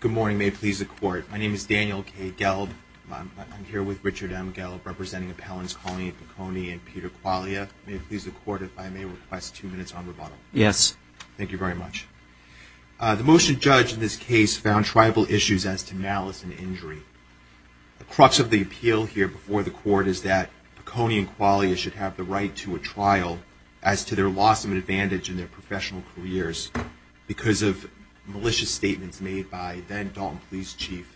Good morning. May it please the Court, my name is Daniel K. Gelb. I'm here with Richard M. Gelb, representing Appellants Coney and Pecone, and Peter Qualia. May it please the Court, I have a motion and a second, and it's on rebuttal. Yes. Thank you very much. The motion judge in this case found tribal issues as to malice and injury. The crux of the appeal here before the Court is that Pecone and Qualia should have the right to a trial as to their loss of an advantage in their professional careers because of malicious statements made by then Dalton Police Chief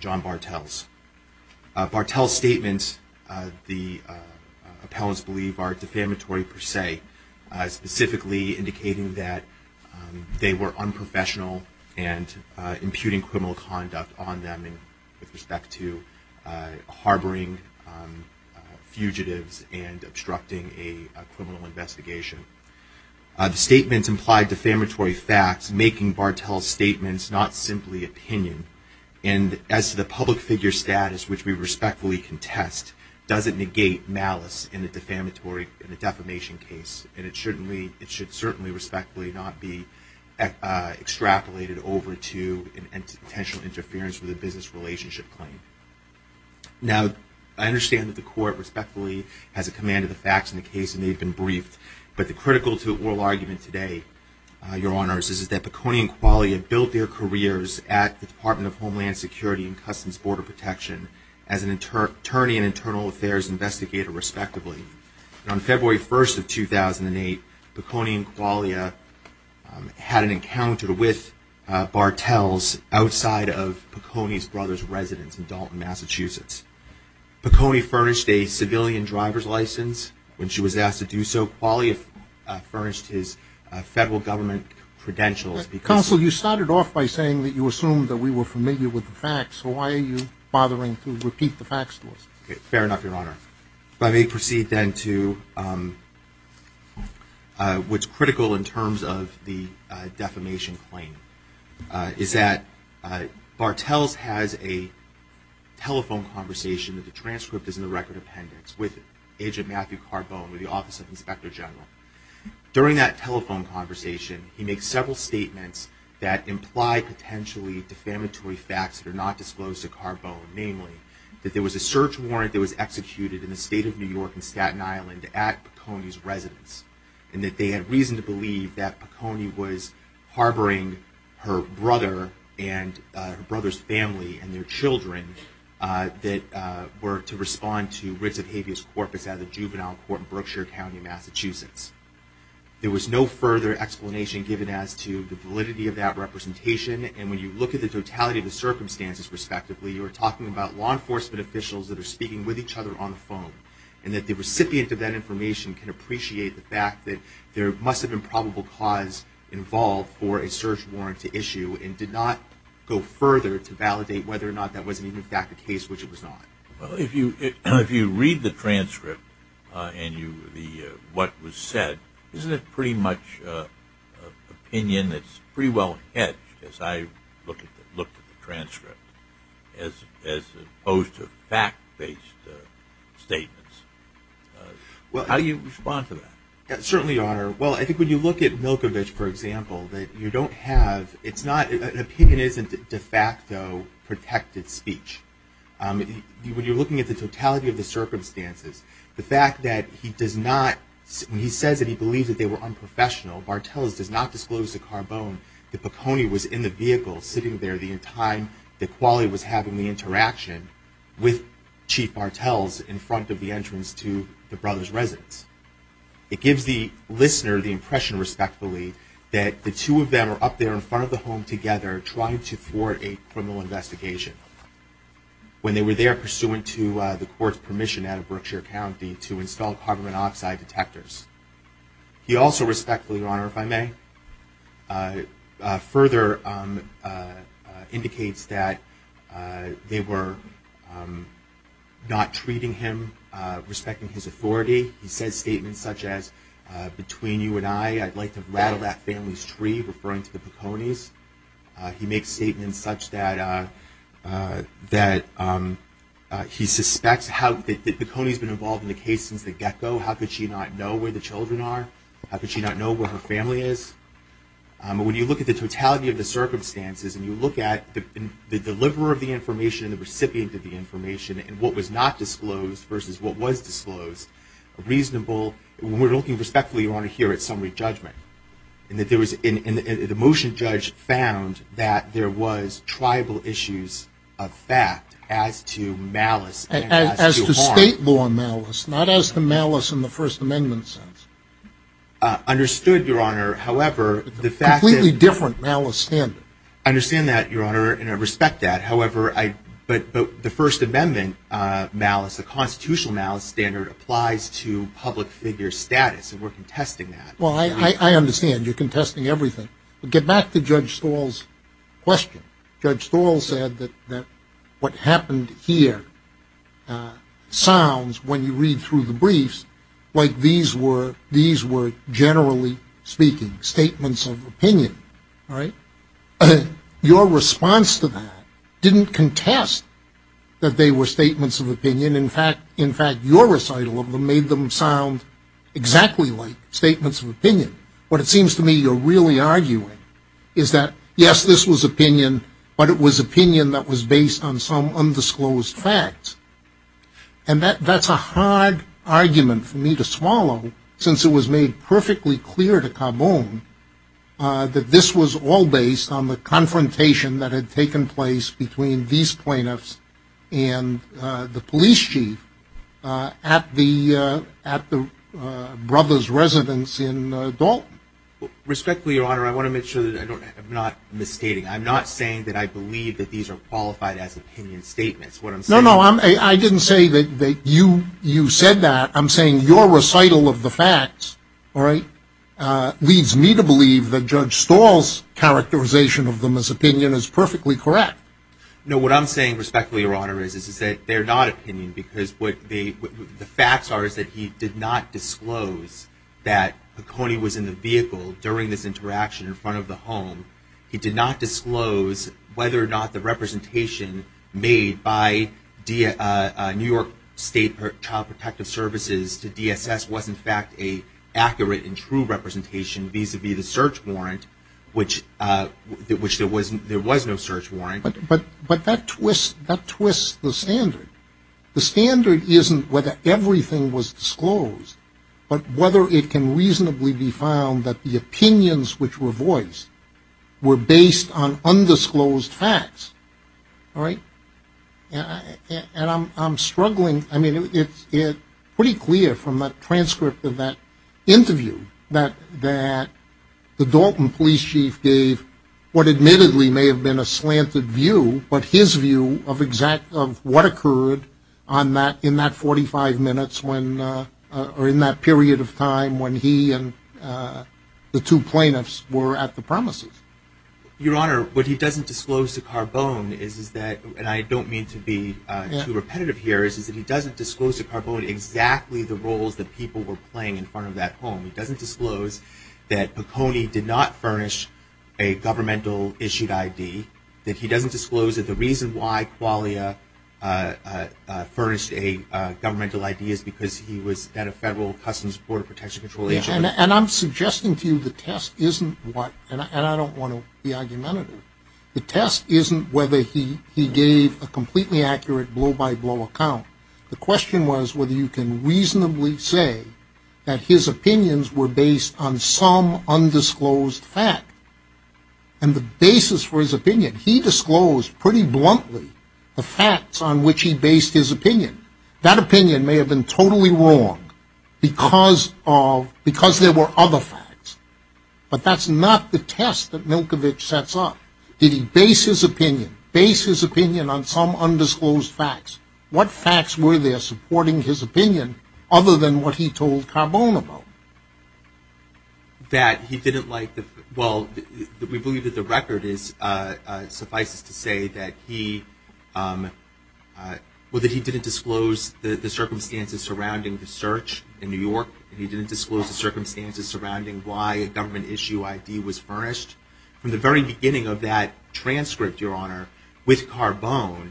John Bartels. Bartels' statements, the appellants believe, are defamatory per se, specifically indicating that they were unprofessional and imputing criminal conduct on them with respect to harboring fugitives and obstructing a criminal investigation. The statements implied defamatory facts, making Bartels' statements not simply opinion. And as to the public figure status, which we respectfully contest, does it negate malice in the defamatory case? And it should certainly, respectfully, not be extrapolated over to potential interference with a business relationship claim. Now, I understand that the Court, respectfully, has a command of the facts in the case, and they've been briefed. But the critical to oral argument today, Your Honors, is that Pecone and Qualia built their careers at the Department of Homeland Security and Customs Border Protection as an attorney and internal affairs investigator, respectively. On February 1st of 2008, Pecone and Qualia had an encounter with Bartels outside of Pecone's brother's residence in Dalton, Massachusetts. Pecone furnished a civilian driver's license when she was asked to do so. Qualia furnished his federal government credentials. Counsel, you started off by saying that you assumed that we were familiar with the facts. So why are you bothering to repeat the facts to us? Fair enough, Your Honor. If I may proceed then to what's critical in terms of the defamation claim, is that Bartels has a telephone conversation that the transcript is in the record appendix with Agent Matthew Carbone with the Office of Inspector General. During that telephone conversation, he makes several statements that imply potentially defamatory facts that are not disclosed to Carbone. Namely, that there was a search warrant that was executed in the state of New York in Staten Island at Pecone's residence, and that they had reason to believe that Pecone was harboring her brother and her brother's family and their children that were to respond to writs of habeas corpus at a juvenile court in Berkshire County, Massachusetts. There was no further explanation given as to the validity of that You are talking about law enforcement officials that are speaking with each other on the phone, and that the recipient of that information can appreciate the fact that there must have been probable cause involved for a search warrant to issue, and did not go further to validate whether or not that was in fact the case, which it was not. If you read the transcript and what was said, isn't it pretty much opinion that's pretty well-hedged, as I looked at the transcript, as opposed to fact-based statements? How do you respond to that? Certainly, Your Honor. Well, I think when you look at Milkovich, for example, that you don't have, it's not, an opinion isn't de facto protected speech. When you're looking at the totality of the circumstances, the fact that he does not, when he says that he was in the vehicle sitting there the entire time that Qualley was having the interaction with Chief Bartels in front of the entrance to the brothers' residence, it gives the listener the impression, respectfully, that the two of them are up there in front of the home together trying to thwart a criminal investigation when they were there pursuant to the court's permission out of Berkshire County to install carbon monoxide detectors. He also respectfully, Your Honor, if I may, further indicates that they were not treating him, respecting his authority. He says statements such as, between you and I, I'd like to rattle that family's tree, referring to the Poconis. He makes statements such that he suspects how, that Poconis has been involved in the case since the get-go. How could she not know where the children are? How could she not know where her family is? When you look at the totality of the circumstances and you look at the deliverer of the information and the recipient of the information and what was not disclosed versus what was disclosed, a reasonable, when we're looking respectfully, Your Honor, here at summary judgment, and that there was, and the motion judge found that there was tribal issues of fact as to state law malice, not as to malice in the First Amendment sense. Understood, Your Honor. However, the fact that... Completely different malice standard. Understand that, Your Honor, and I respect that. However, the First Amendment malice, the constitutional malice standard applies to public figure status, and we're contesting that. Well, I understand. You're contesting everything. But get back to Judge Stahl's question. Judge Stahl, what happened here sounds, when you read through the briefs, like these were generally speaking, statements of opinion. Your response to that didn't contest that they were statements of opinion. In fact, your recital of them made them sound exactly like statements of opinion. What it seems to me you're really arguing is that, yes, this was opinion, but it was opinion that was based on some undisclosed facts. And that's a hard argument for me to swallow since it was made perfectly clear to Carbone that this was all based on the confrontation that had taken place between these plaintiffs and the police chief at the brother's residence in Dalton. Respectfully, Your Honor, I want to make sure that I'm not misstating. I'm not saying that I believe that these are qualified as opinion statements. What I'm saying is... No, no. I didn't say that you said that. I'm saying your recital of the facts leads me to believe that Judge Stahl's characterization of them as opinion is perfectly correct. No, what I'm saying, respectfully, Your Honor, is that they're not opinion because what the facts are is that he did not disclose that Piconi was in the vehicle during this interaction in front of the home. He did not disclose whether or not the representation made by New York State Child Protective Services to DSS was, in fact, an accurate and true representation vis-a-vis the search warrant, which there was no search warrant. But that twists the standard. The standard isn't whether everything was disclosed, but whether it can reasonably be found that the opinions which were voiced were based on undisclosed facts. And I'm struggling. I mean, it's pretty clear from the transcript of that interview that the Dalton police chief gave what admittedly may have been a slanted view, but his view of what occurred in that 45 minutes or in that period of time when he and the two plaintiffs were at the premises. Your Honor, what he doesn't disclose to Carbone is that, and I don't mean to be too repetitive here, is that he doesn't disclose to Carbone exactly the roles that people were playing in front of that home. He doesn't disclose that Piconi did not furnish a governmental issued ID, that he doesn't disclose that the reason why Qualia furnished a governmental ID is because he was at a federal customs border protection control agency. And I'm suggesting to you the test isn't what, and I don't want to be argumentative, the test isn't whether he gave a completely accurate blow-by-blow account. The question was whether you can reasonably say that his opinions were based on some undisclosed fact. And the basic basis for his opinion, he disclosed pretty bluntly the facts on which he based his opinion. That opinion may have been totally wrong because of, because there were other facts. But that's not the test that Milkovich sets up. Did he base his opinion, base his opinion on some undisclosed facts? What facts were there supporting his opinion other than what he told Carbone about? That he didn't like the, well, we believe that the record is, suffices to say that he, well, that he didn't disclose the circumstances surrounding the search in New York. He didn't disclose the circumstances surrounding why a government issue ID was furnished. From the very beginning of that transcript, Your Honor, with Carbone,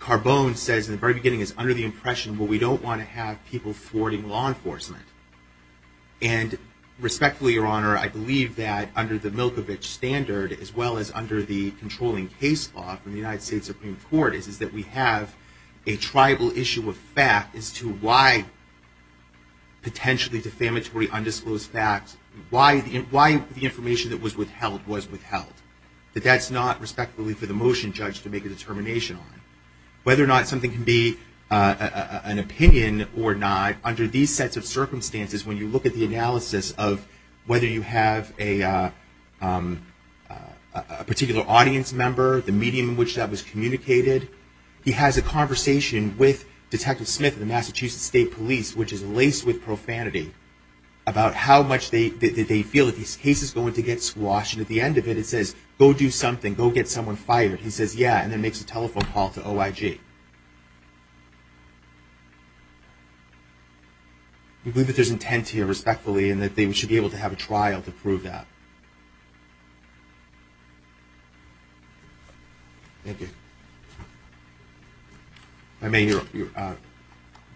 Carbone says in the very beginning, is under the impression, well, we don't want to have people thwarting law enforcement. And respectfully, Your Honor, I believe that under the Milkovich standard, as well as under the controlling case law from the United States Supreme Court, is that we have a tribal issue of fact as to why potentially defamatory undisclosed facts, why the information that was withheld was withheld. But that's not, respectfully, for the motion judge to make a determination on. Whether or not something can be an opinion or not, under these sets of circumstances, when you look at the analysis of whether you have a particular audience member, the medium in which that was communicated, he has a conversation with Detective Smith of the Massachusetts State Police, which is laced with profanity, about how much they feel that this case is going to get squashed. And at the end of it, it says, go do something, go get someone fired. He says, yeah, and then makes a telephone call to OIG. We believe that there's intent here, respectfully, and that they should be able to have a trial to prove that. Thank you. If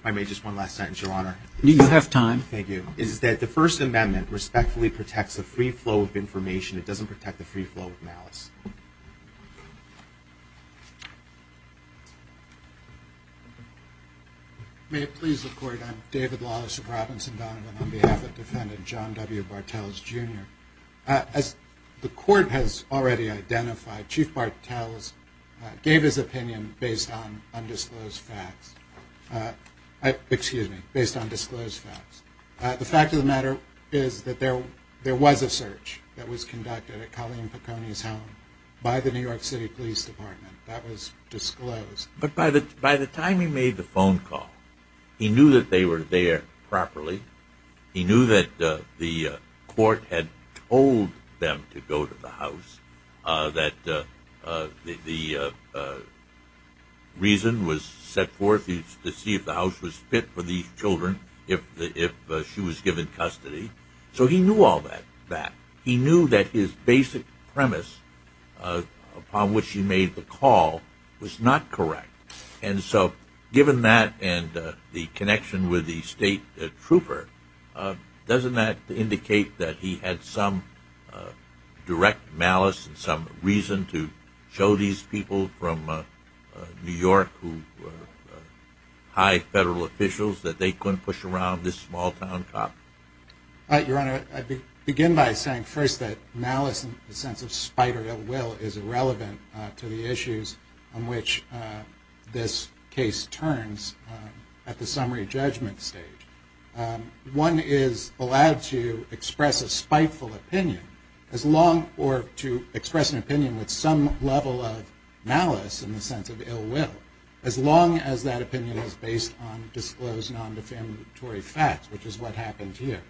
I may, just one last sentence, Your Honor. You have time. Thank you. Is that the First Amendment respectfully protects the free flow of information. It doesn't protect the free flow of malice. May it please the Court, I'm David Lawless of Robinson Donovan on behalf of Defendant John W. Bartels, Jr. As the Court has already identified, Chief Bartels gave his opinion based on undisclosed facts. Excuse me, based on disclosed facts. The fact of the matter is that there was a search that was conducted at Colleen Piconi's home by the New York City Police Department. That was disclosed. But by the time he made the phone call, he knew that they were there properly. He knew that the court had told them to go to the house, that the reason was set forth to see if the house was fit for these children, if she was given custody. So he knew all that. He knew that his basic premise upon which he made the call was not correct. And so given that and the connection with the state trooper, doesn't that indicate that he had some direct malice and some reason to show these people from New York who were high-ranking people like federal officials that they couldn't push around this small-town cop? Your Honor, I begin by saying first that malice in the sense of spite or ill will is irrelevant to the issues on which this case turns at the summary judgment stage. One is allowed to express a spiteful opinion as long or to express an opinion with some level of malice in the sense of ill will, as long as that opinion is based on disclosed, non-defendatory facts, which is what happened here.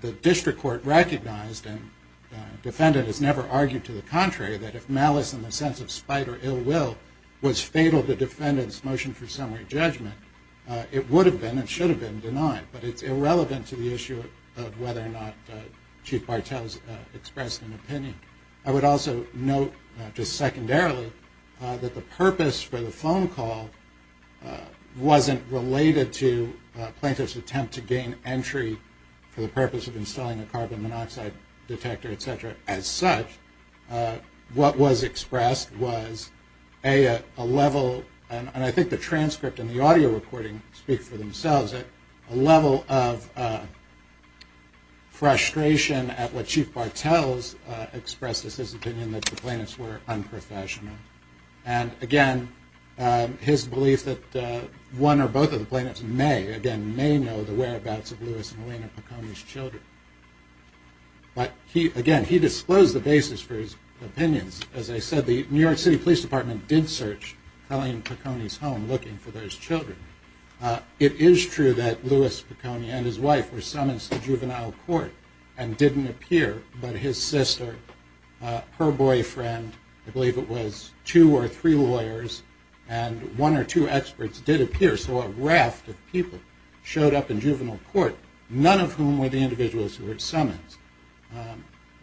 The district court recognized and the defendant has never argued to the contrary that if malice in the sense of spite or ill will was fatal to the defendant's motion for summary judgment, it would have been and should have been denied. But it's irrelevant to the issue of whether or not Chief Bartels expressed an opinion. I would also note, just secondarily, that the purpose for the phone call wasn't related to a plaintiff's attempt to gain entry for the purpose of installing a carbon monoxide detector, et cetera. As such, what was expressed was a level, and I think the transcript and the audio recording speak for themselves, a level of frustration at what Chief Bartels expressed as his opinion, that the plaintiffs were unprofessional. And again, his belief that one or both of the plaintiffs may, again, may know the whereabouts of Lewis and Helena Pecone's children. But again, he disclosed the basis for his opinions. As I said, the New York City Police Department did search Helene Pecone's home looking for those children. It is true that Lewis Pecone and his wife were summonsed to juvenile court and didn't appear, but his sister, her boyfriend, I believe it was two or three lawyers, and one or two experts did appear. So a raft of people showed up in juvenile court, none of whom were the individuals who were at summons.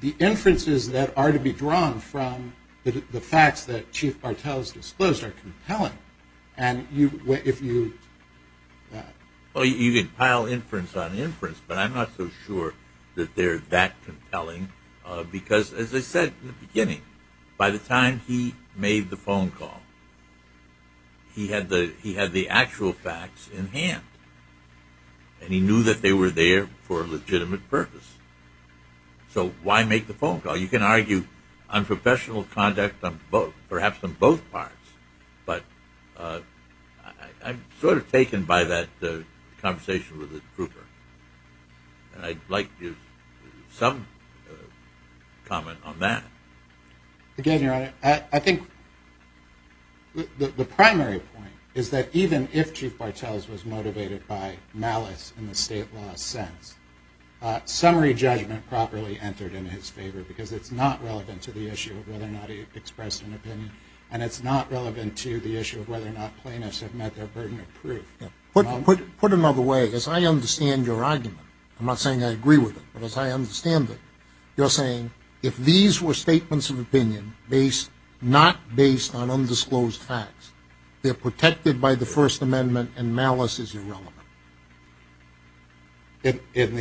The inferences that are to be drawn from the facts that Chief Bartels disclosed are compelling. And if you... Well, you can pile inference on inference, but I'm not so sure that they're that compelling, because as I said in the beginning, by the time he made the phone call, he had the actual facts in hand, and he knew that they were there for a legitimate purpose. So why make the phone call? You can argue unprofessional conduct perhaps on both parts, but I'm sort of taken by that conversation with the trooper. And I'd like some comment on that. Again, Your Honor, I think the primary point is that even if Chief Bartels was motivated by malice in the state law sense, summary judgment properly entered in his favor, because it's not relevant to the issue of whether or not he expressed an opinion, and it's not relevant. Put another way, as I understand your argument, I'm not saying I agree with it, but as I understand it, you're saying if these were statements of opinion not based on undisclosed facts, they're protected by the First Amendment and malice is irrelevant. In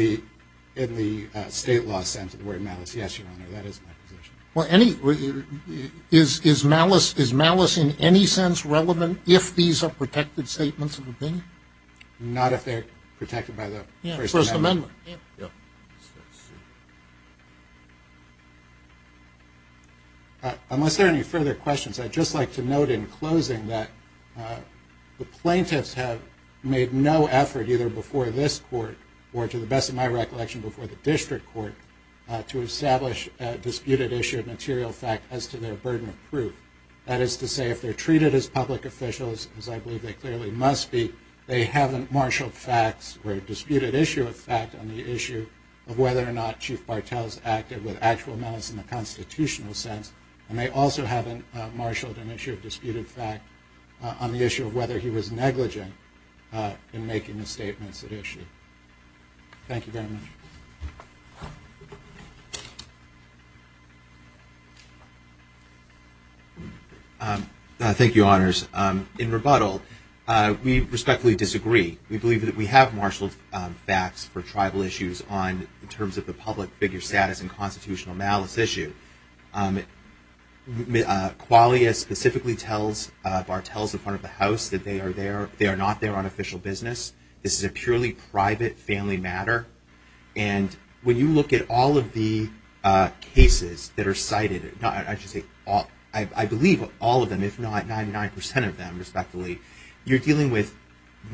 the state law sense, the word malice, yes, Your Honor. That is my position. Well, is malice in any sense relevant if these are protected statements of opinion? Not if they're protected by the First Amendment. Unless there are any further questions, I'd just like to note in closing that the plaintiffs have made no effort either before this Court or to the best of my recollection before the Court to issue a material fact as to their burden of proof, that is to say if they're treated as public officials, as I believe they clearly must be, they haven't marshaled facts or disputed issue of fact on the issue of whether or not Chief Bartels acted with actual malice in the constitutional sense, and they also haven't marshaled an issue of disputed fact on the issue of whether he was negligent in making the statements at issue. Thank you very much. Thank you, Honors. In rebuttal, we respectfully disagree. We believe that we have marshaled facts for tribal issues on, in terms of the public figure status and constitutional malice issue. Qualia specifically tells Bartels in front of the House that they are not there on official business. This is a purely private family matter, and when you look at all of the cases that are cited, I believe all of them if not 99% of them respectively, you're dealing with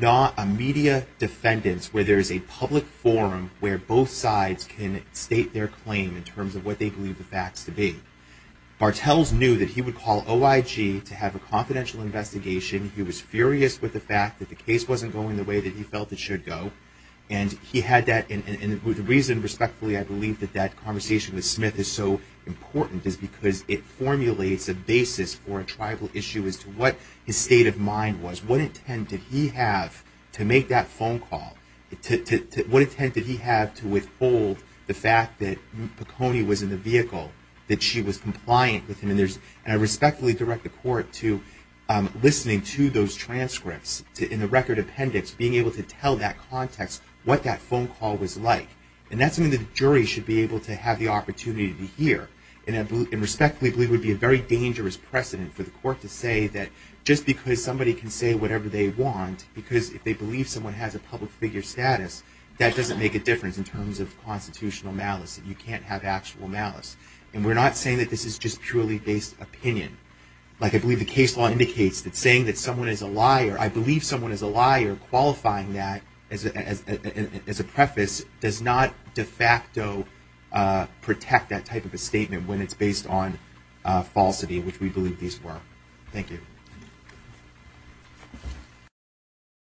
not a media defendants where there is a public forum where both sides can state their claim in terms of what they believe the facts to be. Bartels knew that he would call OIG to have a confidential investigation. He was furious with the fact that the case wasn't going the way that he felt it should go, and he had that, and the reason respectfully I believe that that conversation with Smith is so important is because it formulates a basis for a tribal issue as to what his state of mind was. What intent did he have to make that phone call? What intent did he have to withhold the fact that McHoney was in the vehicle, that she was compliant with him? And I respectfully direct the Court to listening to those transcripts in the record appendix, being able to tell that context what that phone call was like, and that's something the jury should be able to have the opportunity to hear. And I respectfully believe it would be a very dangerous precedent for the Court to say that just because somebody can say whatever they want because if they believe someone has a public figure status, that doesn't make a difference in terms of constitutional malice and you can't have actual malice. And we're not saying that this is just purely based opinion. Like I believe the case law indicates that saying that someone is a liar, I believe someone is a liar, qualifying that as a preface, does not de facto protect that type of a statement when it's based on falsity, which we believe these were. Thank you.